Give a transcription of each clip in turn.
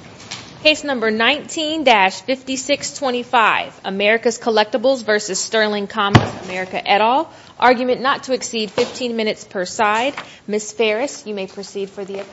America, et al. Argument not to exceed 15 minutes per side. Ms. Ferris, you may proceed for the appellant.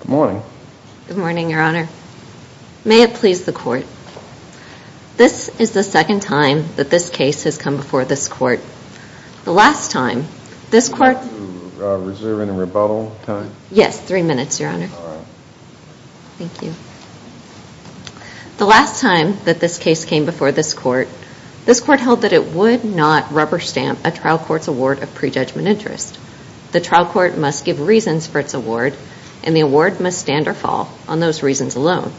Good morning. Good morning, Your Honor. May it please the Court. This is the second time that this case has come before this Court. The last time, this Court... Is there any rebuttal time? Yes, three minutes, Your Honor. The last time that this case came before this Court, this Court held that it would not rubber stamp a trial court's award of prejudgment interest. The trial court must give reasons for its award, and the award must stand or fall on those reasons alone.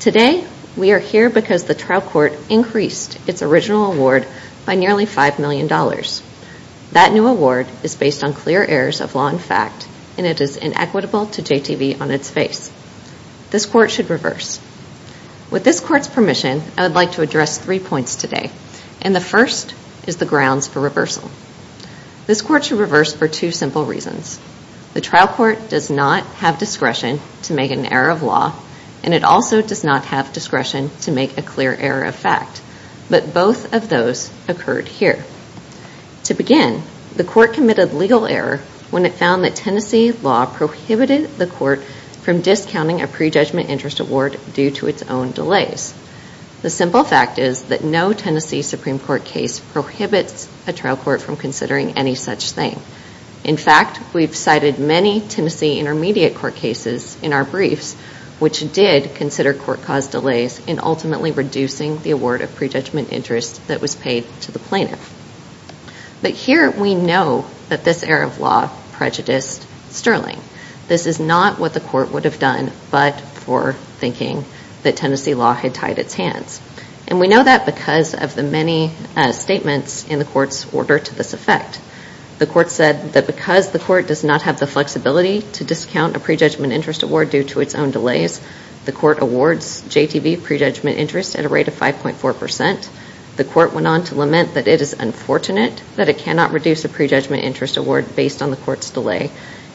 Today, we are here because the trial court increased its original award by nearly $5 million. That new award is based on clear errors of law and fact, and it is inequitable to JTV on its face. This Court should reverse. With this Court's permission, I would like to address three points today. And the first is the grounds for reversal. This Court should reverse for two simple reasons. The trial court does not have discretion to make an error of law, and it also does not have discretion to make a clear error of fact, but both of those occurred here. To begin, the Court committed legal error when it found that Tennessee law prohibited the Court from discounting a prejudgment interest award due to its own delays. The simple fact is that no Tennessee Supreme Court case prohibits a trial court from considering any such thing. In fact, we've cited many Tennessee intermediate court cases in our briefs which did consider court cause delays in ultimately reducing the award of prejudgment interest that was paid to the plaintiff. But here we know that this error of law prejudiced Sterling. This is not what the Court would have done but for thinking that Tennessee law had tied its hands. And we know that because of the many statements in the Court's order to this effect. The Court said that because the Court does not have the flexibility to discount a prejudgment interest award due to its own delays, the Court awards JTV prejudgment interest at a rate of 5.4%. The Court went on to lament that it is unfortunate that it cannot reduce a prejudgment interest award based on the Court's delay.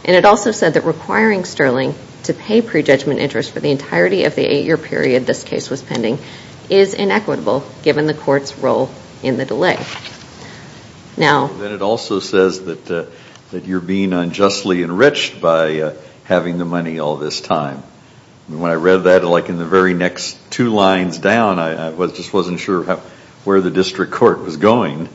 And it also said that requiring Sterling to pay prejudgment interest for the entirety of the eight-year period this case was pending is inequitable given the Court's role in the delay. Now... And then it also says that you're being unjustly enriched by having the money all this time. When I read that, like in the very next two lines down, I just wasn't sure where the district court was going.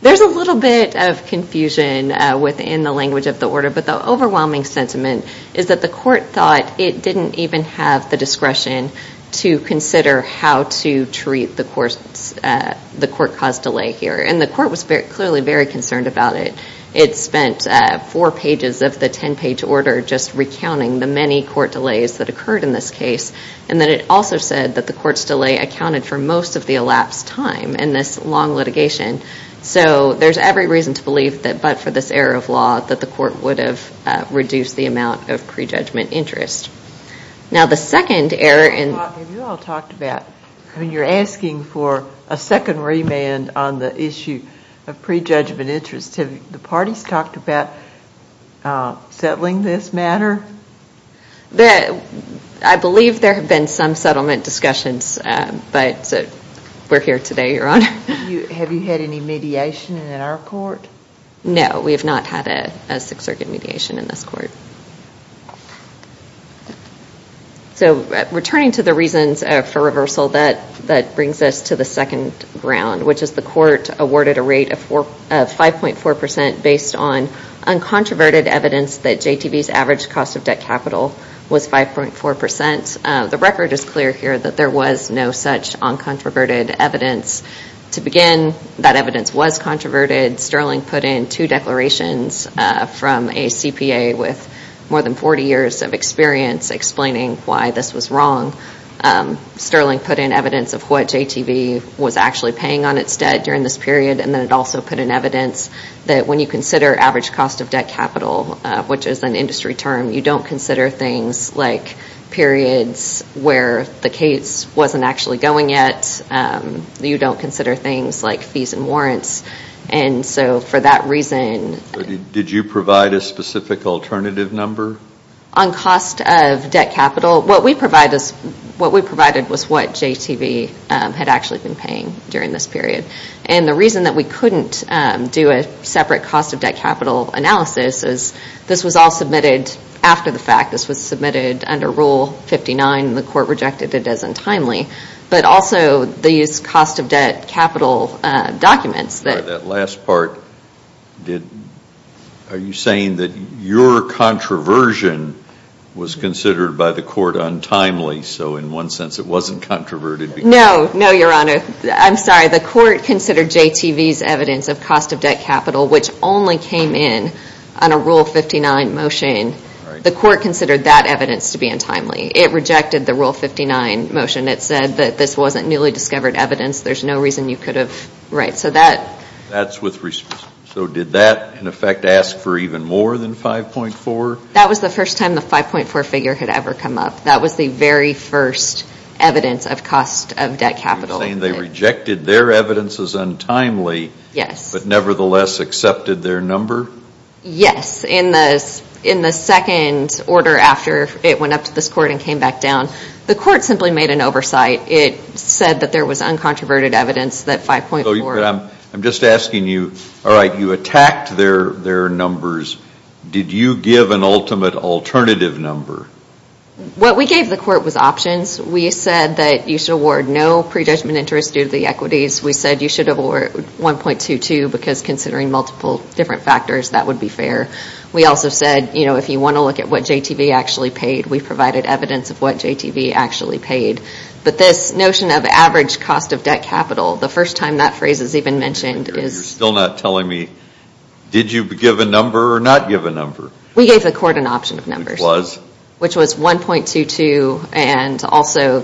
There's a little bit of confusion within the language of the order, but the overwhelming sentiment is that the Court thought it didn't even have the discretion to consider how to treat the Court's, the Court caused delay here. And the Court was clearly very concerned about it. It spent four pages of the ten-page order just recounting the many Court delays that occurred in this case. And then it also said that the Court's delay accounted for most of the elapsed time in this long litigation. So there's every reason to believe that but for this error of law that the Court would have reduced the amount of prejudgment interest. Now the second error in... Have you all talked about, when you're asking for a second remand on the issue of prejudgment interest, have the parties talked about settling this matter? I believe there have been some settlement discussions, but we're here today, Your Honor. Have you had any mediation in our court? No, we have not had a Sixth Circuit mediation in this court. So returning to the reasons for reversal, that brings us to the second ground, which is the Court awarded a rate of 5.4% based on uncontroverted evidence that JTV's average cost of debt capital was 5.4%. The record is clear here that there was no such uncontroverted evidence. To begin, that evidence was controverted. Sterling put in two declarations from a CPA with more than 40 years of experience explaining why this was wrong. Sterling put in evidence of what JTV was actually paying on its debt during this period. And then it also put in evidence that when you consider average cost of debt capital, which is an industry term, you don't consider things like periods where the case wasn't actually going yet. You don't consider things like fees and warrants. And so for that reason... Did you provide a specific alternative number? On cost of debt capital, what we provided was what JTV had actually been paying during this period. And the reason that we couldn't do a separate cost of debt capital analysis is this was all submitted after the fact. This was submitted under Rule 59, and the Court rejected it as untimely. But also these cost of debt capital documents that... That last part, are you saying that your controversion was considered by the Court untimely? So in one sense, it wasn't controverted because... No, no, Your Honor. I'm sorry. The Court considered JTV's evidence of cost of debt capital, which only came in on a Rule 59 motion. The Court considered that evidence to be untimely. It rejected the Rule 59 motion. It said that this wasn't newly discovered evidence. There's no reason you could have... Right. So that... That's with respect... So did that, in effect, ask for even more than 5.4? That was the first time the 5.4 figure had ever come up. That was the very first evidence of cost of debt capital. So you're saying they rejected their evidence as untimely, but nevertheless accepted their number? Yes. In the second order after it went up to this Court and came back down, the Court simply made an oversight. It said that there was uncontroverted evidence, that 5.4... I'm just asking you, all right, you attacked their numbers. Did you give an ultimate alternative number? What we gave the Court was options. We said that you should award no prejudgment interest due to the equities. We said you should award 1.22 because considering multiple different factors, that would be fair. We also said, you know, if you want to look at what JTV actually paid, we provided evidence of what JTV actually paid. But this notion of average cost of debt capital, the first time that phrase is even mentioned is... You're still not telling me, did you give a number or not give a number? We gave the Court an option of numbers. Which was? Which was 1.22 and also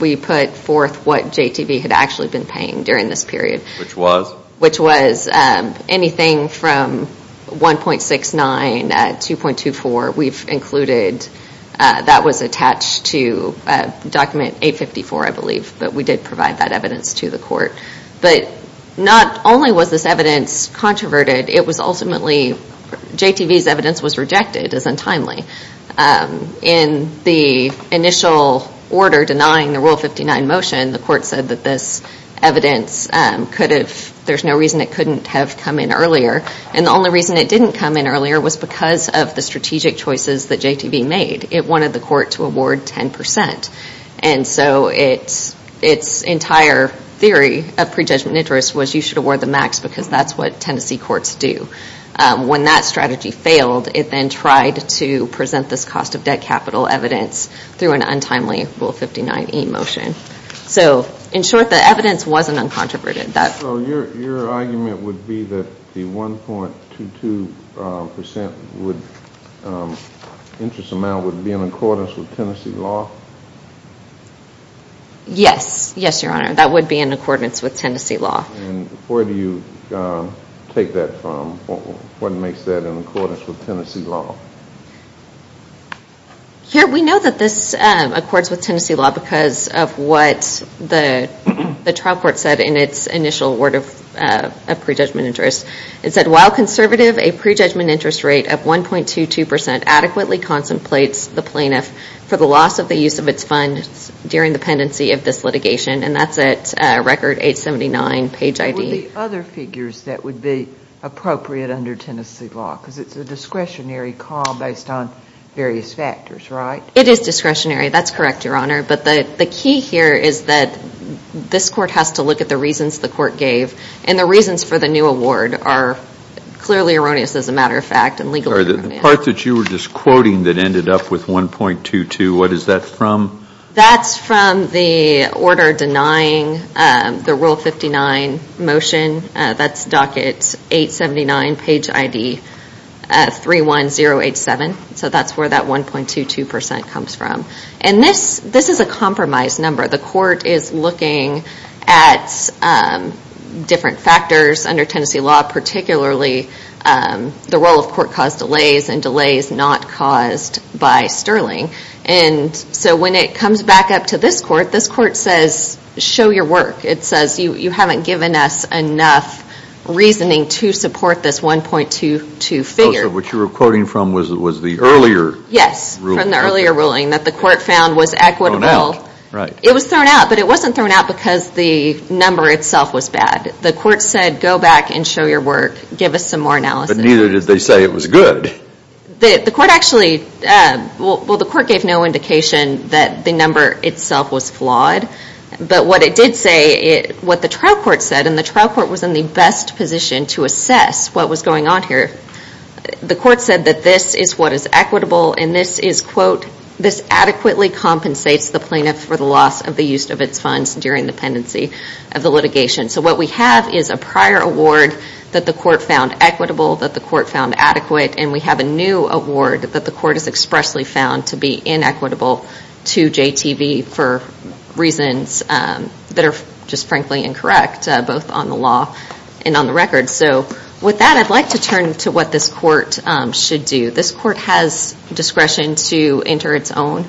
we put forth what JTV had actually been paying during this period. Which was? Which was anything from 1.69 to 2.24, we've included. That was attached to document 854, I believe, but we did provide that evidence to the Court. But not only was this evidence controverted, it was ultimately... In the initial order denying the Rule 59 motion, the Court said that this evidence could have... There's no reason it couldn't have come in earlier and the only reason it didn't come in earlier was because of the strategic choices that JTV made. It wanted the Court to award 10%. And so it's entire theory of prejudgment interest was you should award the max because that's what Tennessee courts do. When that strategy failed, it then tried to present this cost of debt capital evidence through an untimely Rule 59E motion. So in short, the evidence wasn't uncontroverted. Your argument would be that the 1.22% interest amount would be in accordance with Tennessee law? Yes. Yes, Your Honor. That would be in accordance with Tennessee law. And where do you take that from? What makes that in accordance with Tennessee law? Here, we know that this accords with Tennessee law because of what the trial court said in its initial word of prejudgment interest. It said, while conservative, a prejudgment interest rate of 1.22% adequately contemplates the plaintiff for the loss of the use of its funds during the pendency of this litigation. And that's at Record 879, Page ID. What would be other figures that would be appropriate under Tennessee law? Because it's a discretionary call based on various factors, right? It is discretionary. That's correct, Your Honor. But the key here is that this Court has to look at the reasons the Court gave. And the reasons for the new award are clearly erroneous, as a matter of fact, and legally erroneous. The part that you were just quoting that ended up with 1.22, what is that from? That's from the order denying the Rule 59 motion. That's Docket 879, Page ID 31087. So that's where that 1.22% comes from. And this is a compromised number. The Court is looking at different factors under Tennessee law, particularly the role of court-caused delays and delays not caused by Sterling. And so when it comes back up to this Court, this Court says, show your work. It says, you haven't given us enough reasoning to support this 1.22 figure. So what you were quoting from was the earlier ruling. Yes, from the earlier ruling that the Court found was equitable. It was thrown out, but it wasn't thrown out because the number itself was bad. The Court said, go back and show your work, give us some more analysis. But neither did they say it was good. The Court actually, well, the Court gave no indication that the number itself was flawed. But what it did say, what the trial court said, and the trial court was in the best position to assess what was going on here, the Court said that this is what is equitable and this is, quote, this adequately compensates the plaintiff for the loss of the use of its funds during the pendency of the litigation. So what we have is a prior award that the Court found equitable, that the Court found adequate, and we have a new award that the Court has expressly found to be inequitable to JTV for reasons that are just frankly incorrect, both on the law and on the record. So with that, I'd like to turn to what this Court should do. This Court has discretion to enter its own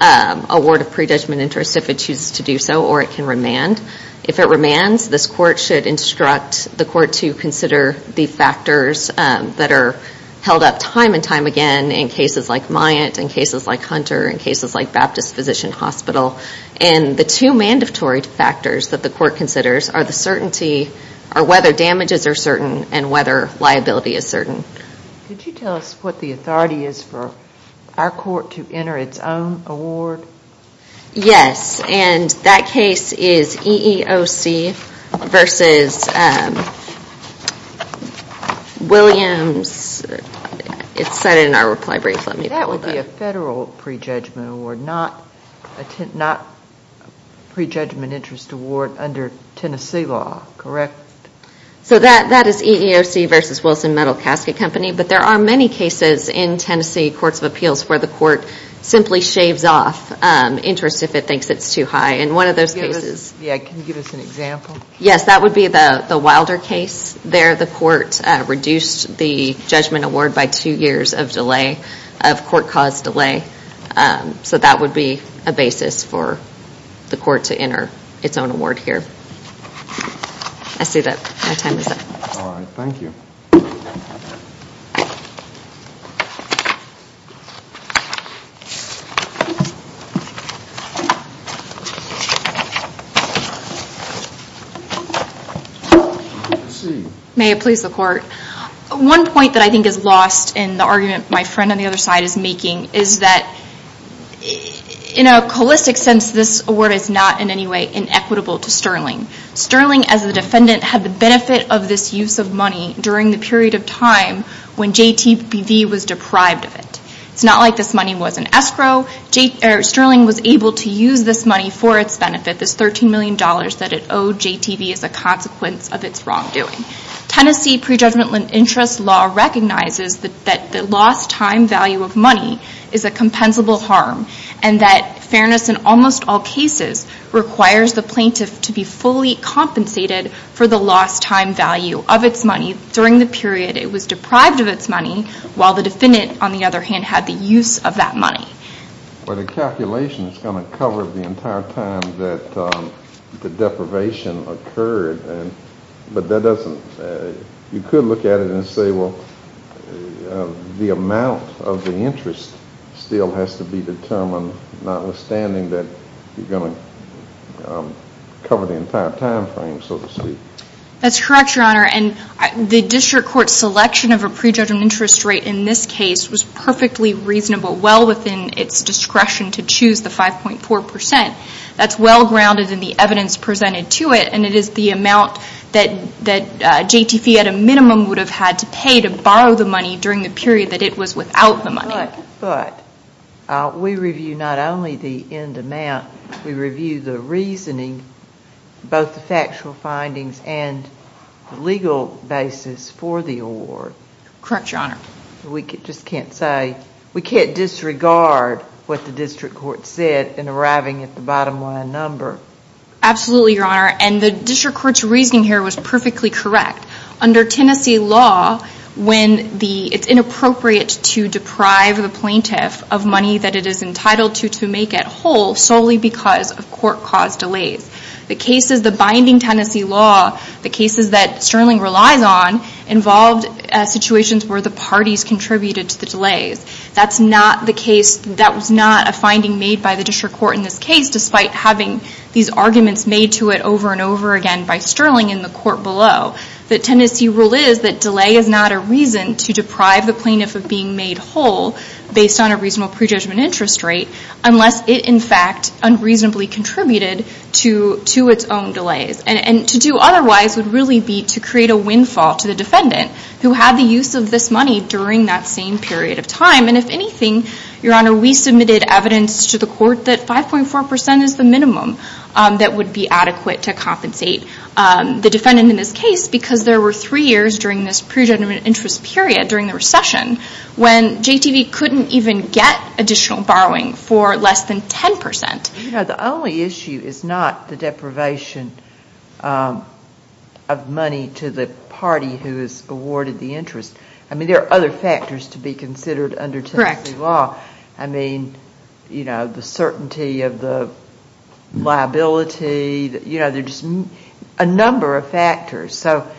award of pre-judgment interest if it chooses to do so, or it can remand. If it remands, this Court should instruct the Court to consider the factors that are held up time and time again in cases like Myatt, in cases like Hunter, in cases like Baptist Physician Hospital. And the two mandatory factors that the Court considers are the certainty, or whether damages are certain, and whether liability is certain. Could you tell us what the authority is for our Court to enter its own award? Yes, and that case is EEOC versus Williams, it's cited in our reply brief. Let me pull it up. That would be a federal pre-judgment award, not a pre-judgment interest award under Tennessee law, correct? So that is EEOC versus Wilson Metal Casket Company, but there are many cases in Tennessee courts of appeals where the Court simply shaves off interest if it thinks it's too high. And one of those cases... Yeah, can you give us an example? Yes, that would be the Wilder case. There, the Court reduced the judgment award by two years of delay, of court-caused delay. So that would be a basis for the Court to enter its own award here. I see that my time is up. All right, thank you. Thank you. May it please the Court. One point that I think is lost in the argument my friend on the other side is making is that in a holistic sense, this award is not in any way inequitable to Sterling. Sterling as a defendant had the benefit of this use of money during the period of time when JTV was deprived of it. It's not like this money was an escrow. Sterling was able to use this money for its benefit, this $13 million that it owed JTV as a consequence of its wrongdoing. Tennessee pre-judgment interest law recognizes that the lost time value of money is a compensable harm and that fairness in almost all cases requires the plaintiff to be fully compensated for the lost time value of its money during the period it was deprived of its money while the defendant, on the other hand, had the use of that money. Well, the calculation is going to cover the entire time that the deprivation occurred. But that doesn't, you could look at it and say, well, the amount of the interest still has to be determined notwithstanding that you're going to cover the entire time frame, so to speak. That's correct, Your Honor. And the district court selection of a pre-judgment interest rate in this case was perfectly reasonable, well within its discretion to choose the 5.4%. That's well grounded in the evidence presented to it and it is the amount that JTV at a minimum would have had to pay to borrow the money during the period that it was without the money. But, we review not only the end amount, we review the reasoning, both the factual findings and the legal basis for the award. Correct, Your Honor. We just can't say, we can't disregard what the district court said in arriving at the bottom line number. Absolutely, Your Honor, and the district court's reasoning here was perfectly correct. Under Tennessee law, when the, it's inappropriate to deprive the plaintiff of money that it is entitled to to make it whole solely because of court-caused delays. The cases, the binding Tennessee law, the cases that Sterling relies on involved situations where the parties contributed to the delays. That's not the case, that was not a finding made by the district court in this case despite having these arguments made to it over and over again by Sterling in the court below. The Tennessee rule is that delay is not a reason to deprive the plaintiff of being made whole based on a reasonable prejudgment interest rate unless it, in fact, unreasonably contributed to its own delays. And to do otherwise would really be to create a windfall to the defendant who had the use of this money during that same period of time, and if anything, Your Honor, we submitted evidence to the court that 5.4% is the minimum that would be adequate to compensate the defendant in this case because there were three years during this prejudgment interest period during the recession when JTV couldn't even get additional borrowing for less than 10%. You know, the only issue is not the deprivation of money to the party who is awarded the interest. I mean, there are other factors to be considered under Tennessee law. Correct. I mean, you know, the certainty of the liability, you know, there's a number of factors, so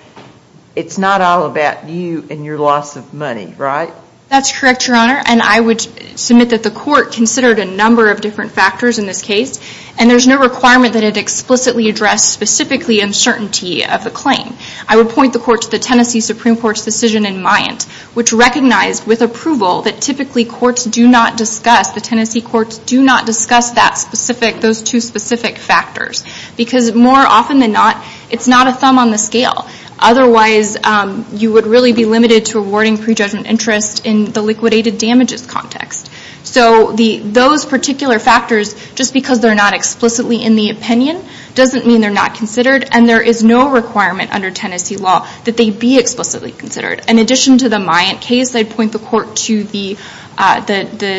it's not all about you and your loss of money, right? That's correct, Your Honor, and I would submit that the court considered a number of different factors in this case, and there's no requirement that it explicitly address specifically uncertainty of the claim. I would point the court to the Tennessee Supreme Court's decision in Mayant which recognized with approval that typically courts do not discuss, the Tennessee courts do not discuss that specific, those two specific factors, because more often than not, it's not a thumb on the scale, otherwise you would really be limited to awarding prejudgment interest in the liquidated damages context. So those particular factors, just because they're not explicitly in the opinion doesn't mean they're not considered, and there is no requirement under Tennessee law that they be explicitly considered. In addition to the Mayant case, I'd point the court to the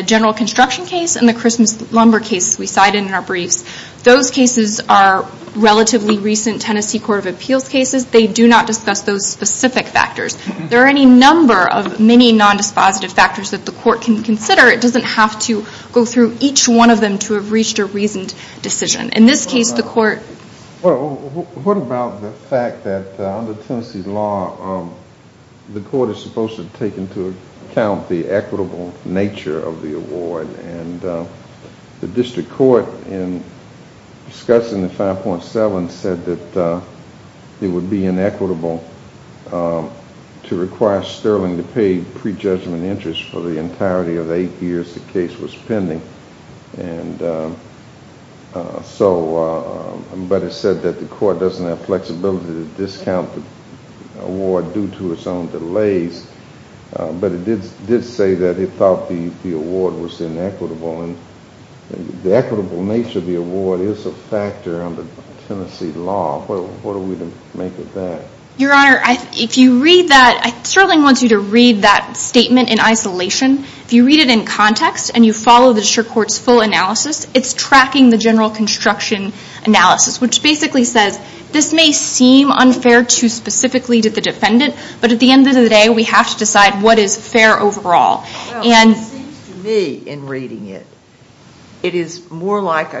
general construction case and the Christmas lumber case we cited in our briefs. Those cases are relatively recent Tennessee Court of Appeals cases. They do not discuss those specific factors. There are any number of many non-dispositive factors that the court can consider. It doesn't have to go through each one of them to have reached a reasoned decision. In this case, the court... What about the fact that under Tennessee law, the court is supposed to take into account the equitable nature of the award, and the district court in discussing the 5.7 said that it would be inequitable to require Sterling to pay prejudgment interest for the entirety of the eight years the case was pending, and so, but it said that the court doesn't have flexibility to discount the award due to its own delays, but it did say that it thought the award was inequitable, and the equitable nature of the award is a factor under Tennessee law. What are we to make of that? Your Honor, if you read that, Sterling wants you to read that statement in isolation. If you read it in context, and you follow the district court's full analysis, it's tracking the general construction analysis, which basically says, this may seem unfair too specifically to the defendant, but at the end of the day, we have to decide what is fair overall. Well, it seems to me in reading it, it is more like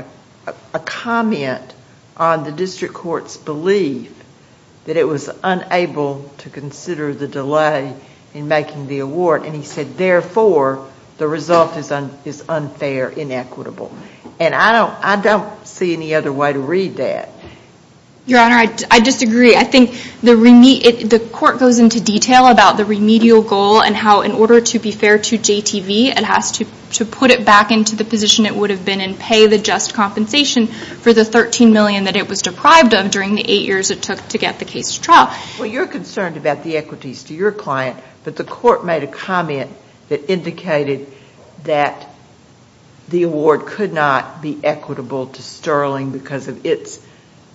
a comment on the district court's belief that it was unable to consider the delay in making the award, and he said, therefore, the result is unfair, inequitable, and I don't see any other way to read that. Your Honor, I disagree. I think the court goes into detail about the remedial goal and how, in order to be fair to JTV, it has to put it back into the position it would have been and pay the just compensation for the $13 million that it was deprived of during the eight years it took to get the case to trial. Well, you're concerned about the equities to your client, but the court made a comment that indicated that the award could not be equitable to Sterling because of its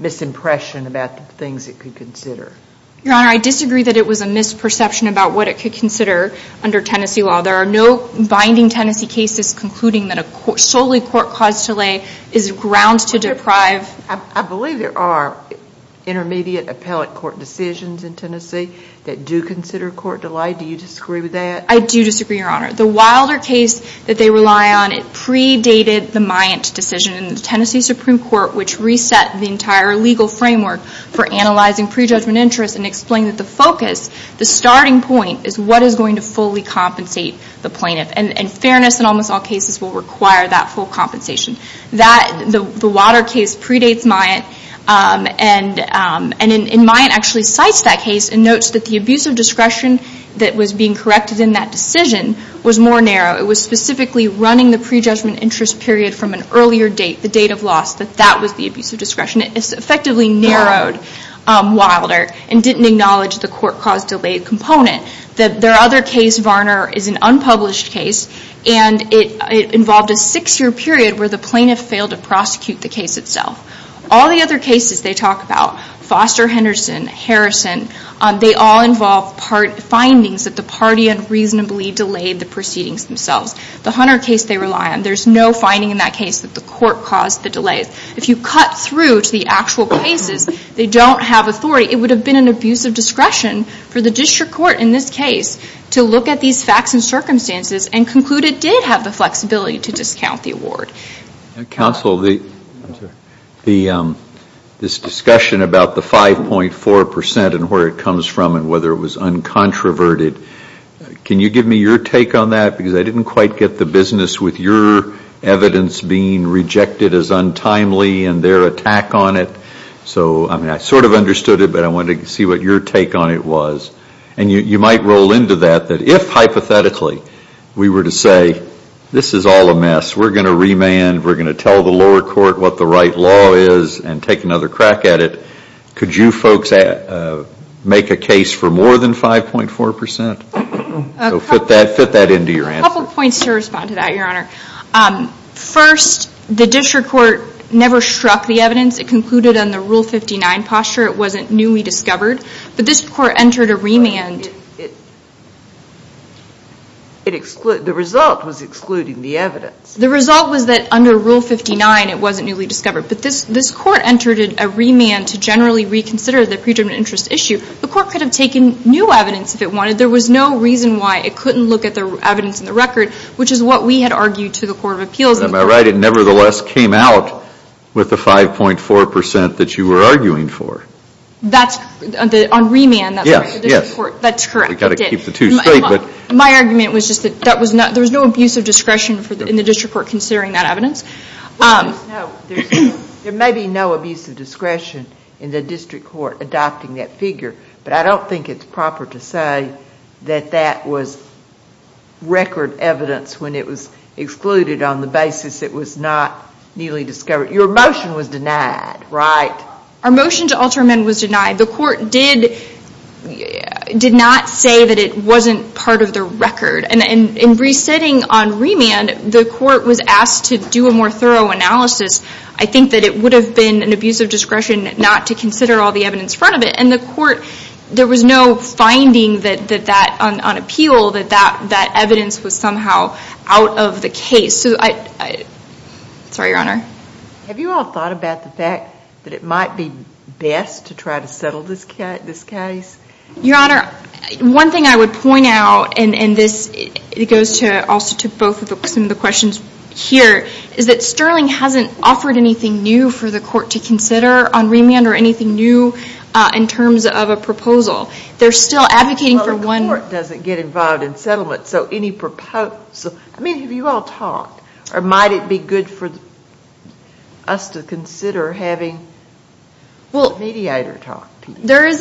misimpression about the things it could consider. Your Honor, I disagree that it was a misperception about what it could consider under Tennessee law. There are no binding Tennessee cases concluding that a solely court-caused delay is ground to deprive. I believe there are intermediate appellate court decisions in Tennessee that do consider court delay. Do you disagree with that? I do disagree, Your Honor. The Wilder case that they rely on, it predated the Myant decision in the Tennessee Supreme Court, which reset the entire legal framework for analyzing prejudgment interest and explained that the focus, the starting point, is what is going to fully compensate the plaintiff, and fairness in almost all cases will require that full compensation. The Wilder case predates Myant, and Myant actually cites that case and notes that the abuse of discretion that was being corrected in that decision was more narrow. It was specifically running the prejudgment interest period from an earlier date, the date of loss, that that was the abuse of discretion. It effectively narrowed Wilder and didn't acknowledge the court-caused delay component. Their other case, Varner, is an unpublished case, and it involved a six-year period where the plaintiff failed to prosecute the case itself. All the other cases they talk about, Foster-Henderson, Harrison, they all involve findings that the party unreasonably delayed the proceedings themselves. The Hunter case they rely on, there's no finding in that case that the court caused the delays. If you cut through to the actual cases, they don't have authority. It would have been an abuse of discretion for the district court in this case to look at these facts and circumstances and conclude it did have the flexibility to discount the award. Counsel, this discussion about the 5.4% and where it comes from and whether it was uncontroverted, can you give me your take on that? Because I didn't quite get the business with your evidence being rejected as untimely and their attack on it. So I sort of understood it, but I wanted to see what your take on it was. And you might roll into that, that if hypothetically we were to say, this is all a mess, we're going to remand, we're going to tell the lower court what the right law is and take another crack at it, could you folks make a case for more than 5.4%? So fit that into your answer. A couple points to respond to that, Your Honor. First, the district court never struck the evidence. It concluded on the Rule 59 posture. It wasn't newly discovered. But this court entered a remand. The result was excluding the evidence. The result was that under Rule 59, it wasn't newly discovered. But this court entered a remand to generally reconsider the predetermined interest issue. The court could have taken new evidence if it wanted. There was no reason why it couldn't look at the evidence in the record, which is what we had argued to the Court of Appeals. Am I right? It nevertheless came out with the 5.4% that you were arguing for? That's on remand? Yes. That's correct. We've got to keep the two straight. My argument was just that there was no abuse of discretion in the district court considering that evidence. There may be no abuse of discretion in the district court adopting that figure, but I don't think it's proper to say that that was record evidence when it was excluded on the basis it was not newly discovered. Your motion was denied, right? Our motion to alter amendment was denied. The court did not say that it wasn't part of the record. In resetting on remand, the court was asked to do a more thorough analysis. I think that it would have been an abuse of discretion not to consider all the evidence in front of it. In the court, there was no finding on appeal that that evidence was somehow out of the case. Sorry, Your Honor. Have you all thought about the fact that it might be best to try to settle this case? Your Honor, one thing I would point out, and this goes also to both of the questions here, is that Sterling hasn't offered anything new for the court to consider on remand or anything new in terms of a proposal. They're still advocating for one... Well, the court doesn't get involved in settlement, so any proposal... I mean, have you all talked? Or might it be good for us to consider having a mediator talk to you? There's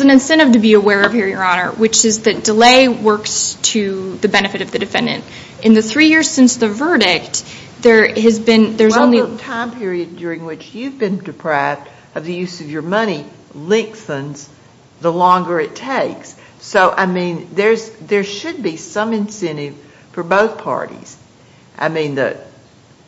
an incentive to be aware of here, Your Honor, which is that delay works to the benefit of the defendant. In the three years since the verdict, there has been... Well, the time period during which you've been deprived of the use of your money lengthens the longer it takes. So I mean, there should be some incentive for both parties. I mean,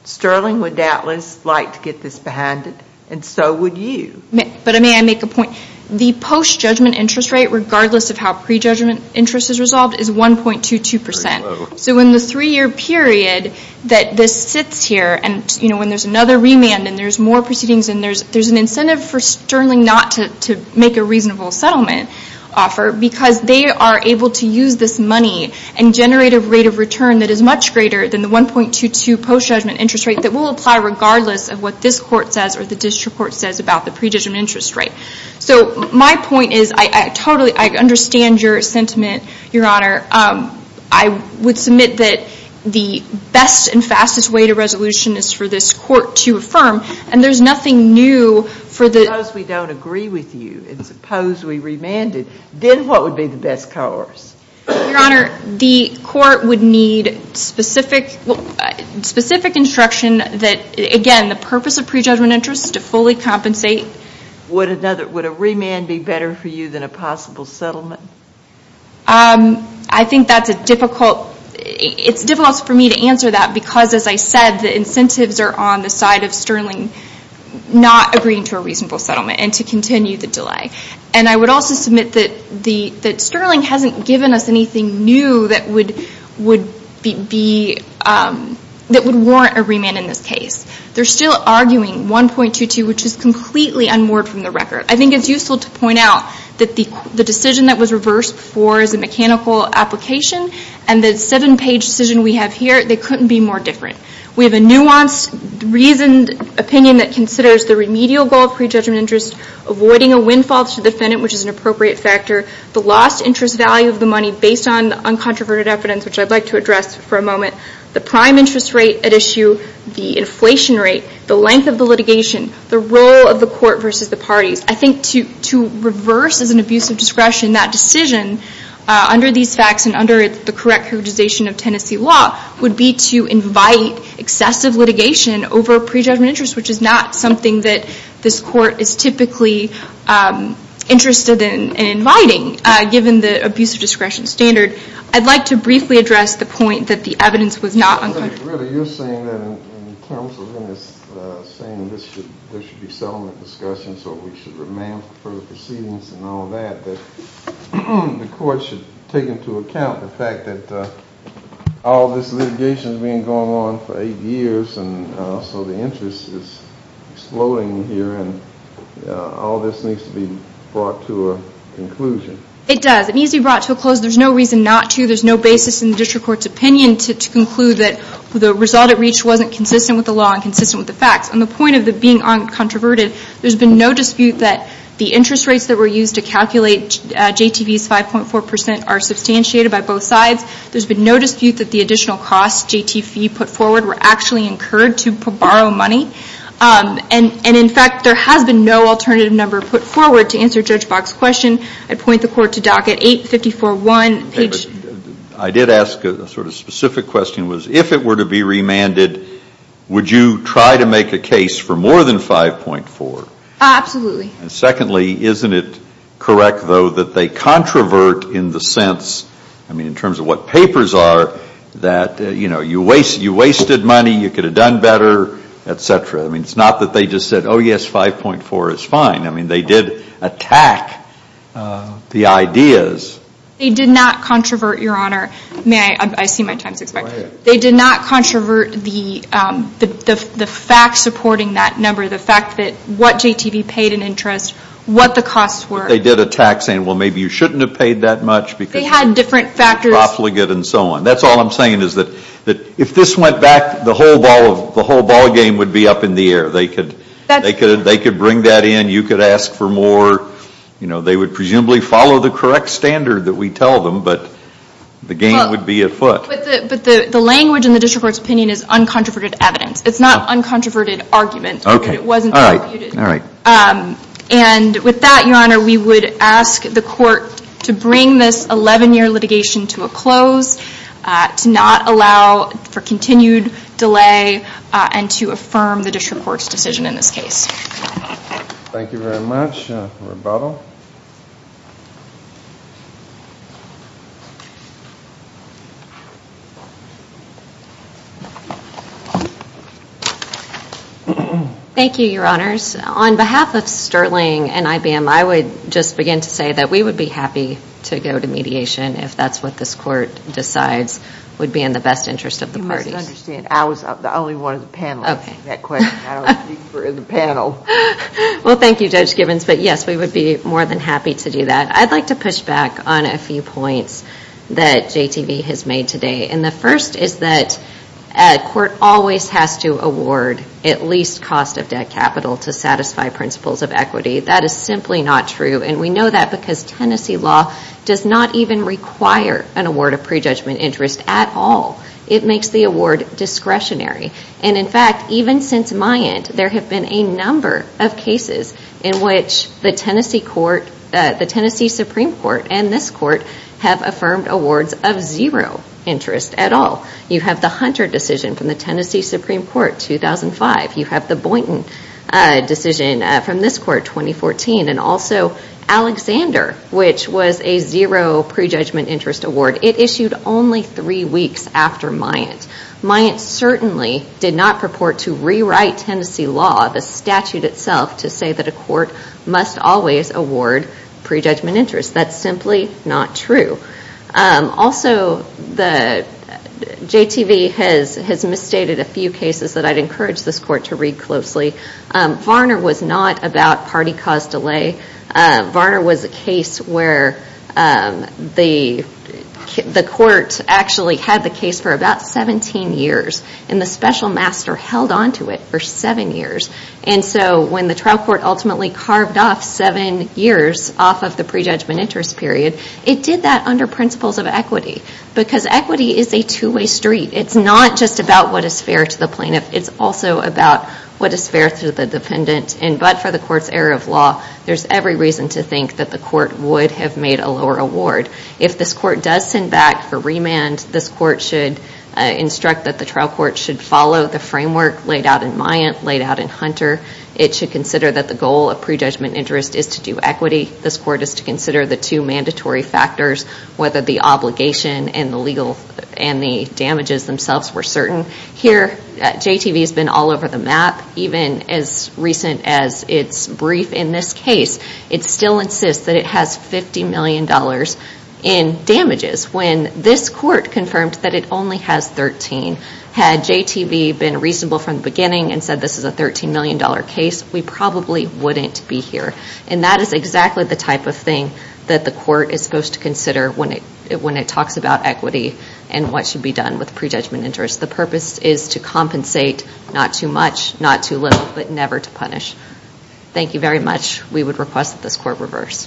Sterling would doubtless like to get this behind it, and so would you. But may I make a point? The post-judgment interest rate, regardless of how pre-judgment interest is resolved, is 1.22%. So in the three-year period that this sits here, and when there's another remand and there's more proceedings, and there's an incentive for Sterling not to make a reasonable settlement offer, because they are able to use this money and generate a rate of return that is much greater than the 1.22 post-judgment interest rate that will apply regardless of what this court says or the district court says about the pre-judgment interest rate. So my point is, I totally understand your sentiment, Your Honor. I would submit that the best and fastest way to resolution is for this court to affirm, and there's nothing new for the... remanded, then what would be the best course? Your Honor, the court would need specific instruction that, again, the purpose of pre-judgment interest is to fully compensate. Would a remand be better for you than a possible settlement? I think that's a difficult... It's difficult for me to answer that because, as I said, the incentives are on the side of Sterling not agreeing to a reasonable settlement and to continue the delay. I would also submit that Sterling hasn't given us anything new that would warrant a remand in this case. They're still arguing 1.22, which is completely unmoored from the record. I think it's useful to point out that the decision that was reversed before is a mechanical application, and the seven-page decision we have here, they couldn't be more different. We have a nuanced, reasoned opinion that considers the remedial goal of pre-judgment interest avoiding a windfall to the defendant, which is an appropriate factor, the lost interest value of the money based on uncontroverted evidence, which I'd like to address for a moment, the prime interest rate at issue, the inflation rate, the length of the litigation, the role of the court versus the parties. I think to reverse, as an abuse of discretion, that decision under these facts and under the correct utilization of Tennessee law would be to invite excessive litigation over pre-judgment interest, which is not something that this court is typically interested in inviting, given the abuse of discretion standard. I'd like to briefly address the point that the evidence was not uncovered. I think, really, you're saying that in terms of saying there should be settlement discussions or we should remand further proceedings and all that, that the court should take into account the fact that all this litigation has been going on for eight years and so the interest is exploding here and all this needs to be brought to a conclusion. It does. It needs to be brought to a close. There's no reason not to. There's no basis in the district court's opinion to conclude that the result it reached wasn't consistent with the law and consistent with the facts. On the point of it being uncontroverted, there's been no dispute that the interest rates that were used to calculate JTV's 5.4% are substantiated by both sides. There's been no dispute that the additional costs JTV put forward were actually incurred to borrow money. And in fact, there has been no alternative number put forward to answer Judge Bach's question. I'd point the court to docket 854.1. I did ask a sort of specific question, was if it were to be remanded, would you try to make a case for more than 5.4? Absolutely. And secondly, isn't it correct, though, that they controvert in the sense, I mean, in terms of what papers are, that, you know, you wasted money, you could have done better, et cetera. I mean, it's not that they just said, oh, yes, 5.4 is fine. I mean, they did attack the ideas. They did not controvert, Your Honor. May I? I see my time's expired. Go ahead. They did not controvert the facts supporting that number, the fact that what JTV paid in interest, what the costs were. But they did attack, saying, well, maybe you shouldn't have paid that much, because They had different factors. They were profligate and so on. That's all I'm saying, is that if this went back, the whole ballgame would be up in the air. They could bring that in. You could ask for more, you know, they would presumably follow the correct standard that we tell them, but the game would be afoot. But the language in the district court's opinion is uncontroverted evidence. It's not uncontroverted argument. Okay. All right. And with that, Your Honor, we would ask the court to bring this 11-year litigation to a close, to not allow for continued delay, and to affirm the district court's decision in this case. Thank you very much. Rebuttal. Thank you, Your Honors. On behalf of Sterling and IBM, I would just begin to say that we would be happy to go to mediation if that's what this court decides would be in the best interest of the parties. You must understand, I was the only one in the panel asking that question. I don't speak for the panel. Well, thank you, Judge Gibbons, but yes, we would be more than happy to do that. I'd like to push back on a few points that JTV has made today, and the first is that court always has to award at least cost of debt capital to satisfy principles of equity. That is simply not true, and we know that because Tennessee law does not even require an award of prejudgment interest at all. It makes the award discretionary, and in fact, even since my end, there have been a number of cases in which the Tennessee Supreme Court and this court have affirmed awards of zero interest at all. You have the Hunter decision from the Tennessee Supreme Court, 2005. You have the Boynton decision from this court, 2014, and also Alexander, which was a zero prejudgment interest award. It issued only three weeks after Myatt. Myatt certainly did not purport to rewrite Tennessee law, the statute itself, to say that a court must always award prejudgment interest. That's simply not true. Also, JTV has misstated a few cases that I'd encourage this court to read closely. Varner was not about party cause delay. Varner was a case where the court actually had the case for about 17 years, and the special master held onto it for seven years. When the trial court ultimately carved off seven years off of the prejudgment interest period, it did that under principles of equity, because equity is a two-way street. It's not just about what is fair to the plaintiff. It's also about what is fair to the dependent, and but for the court's error of law, there's every reason to think that the court would have made a lower award. If this court does send back for remand, this court should instruct that the trial court should follow the framework laid out in Myatt, laid out in Hunter. It should consider that the goal of prejudgment interest is to do equity. This court is to consider the two mandatory factors, whether the obligation and the damages themselves were certain. Here, JTV has been all over the map, even as recent as its brief in this case. It still insists that it has $50 million in damages. When this court confirmed that it only has 13, had JTV been reasonable from the beginning and said this is a $13 million case, we probably wouldn't be here. That is exactly the type of thing that the court is supposed to consider when it talks about equity and what should be done with prejudgment interest. The purpose is to compensate, not too much, not too little, but never to punish. Thank you very much. We would request that this court reverse.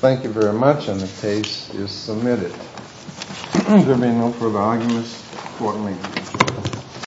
Thank you very much. The case is submitted. There being no further arguments, the court may close.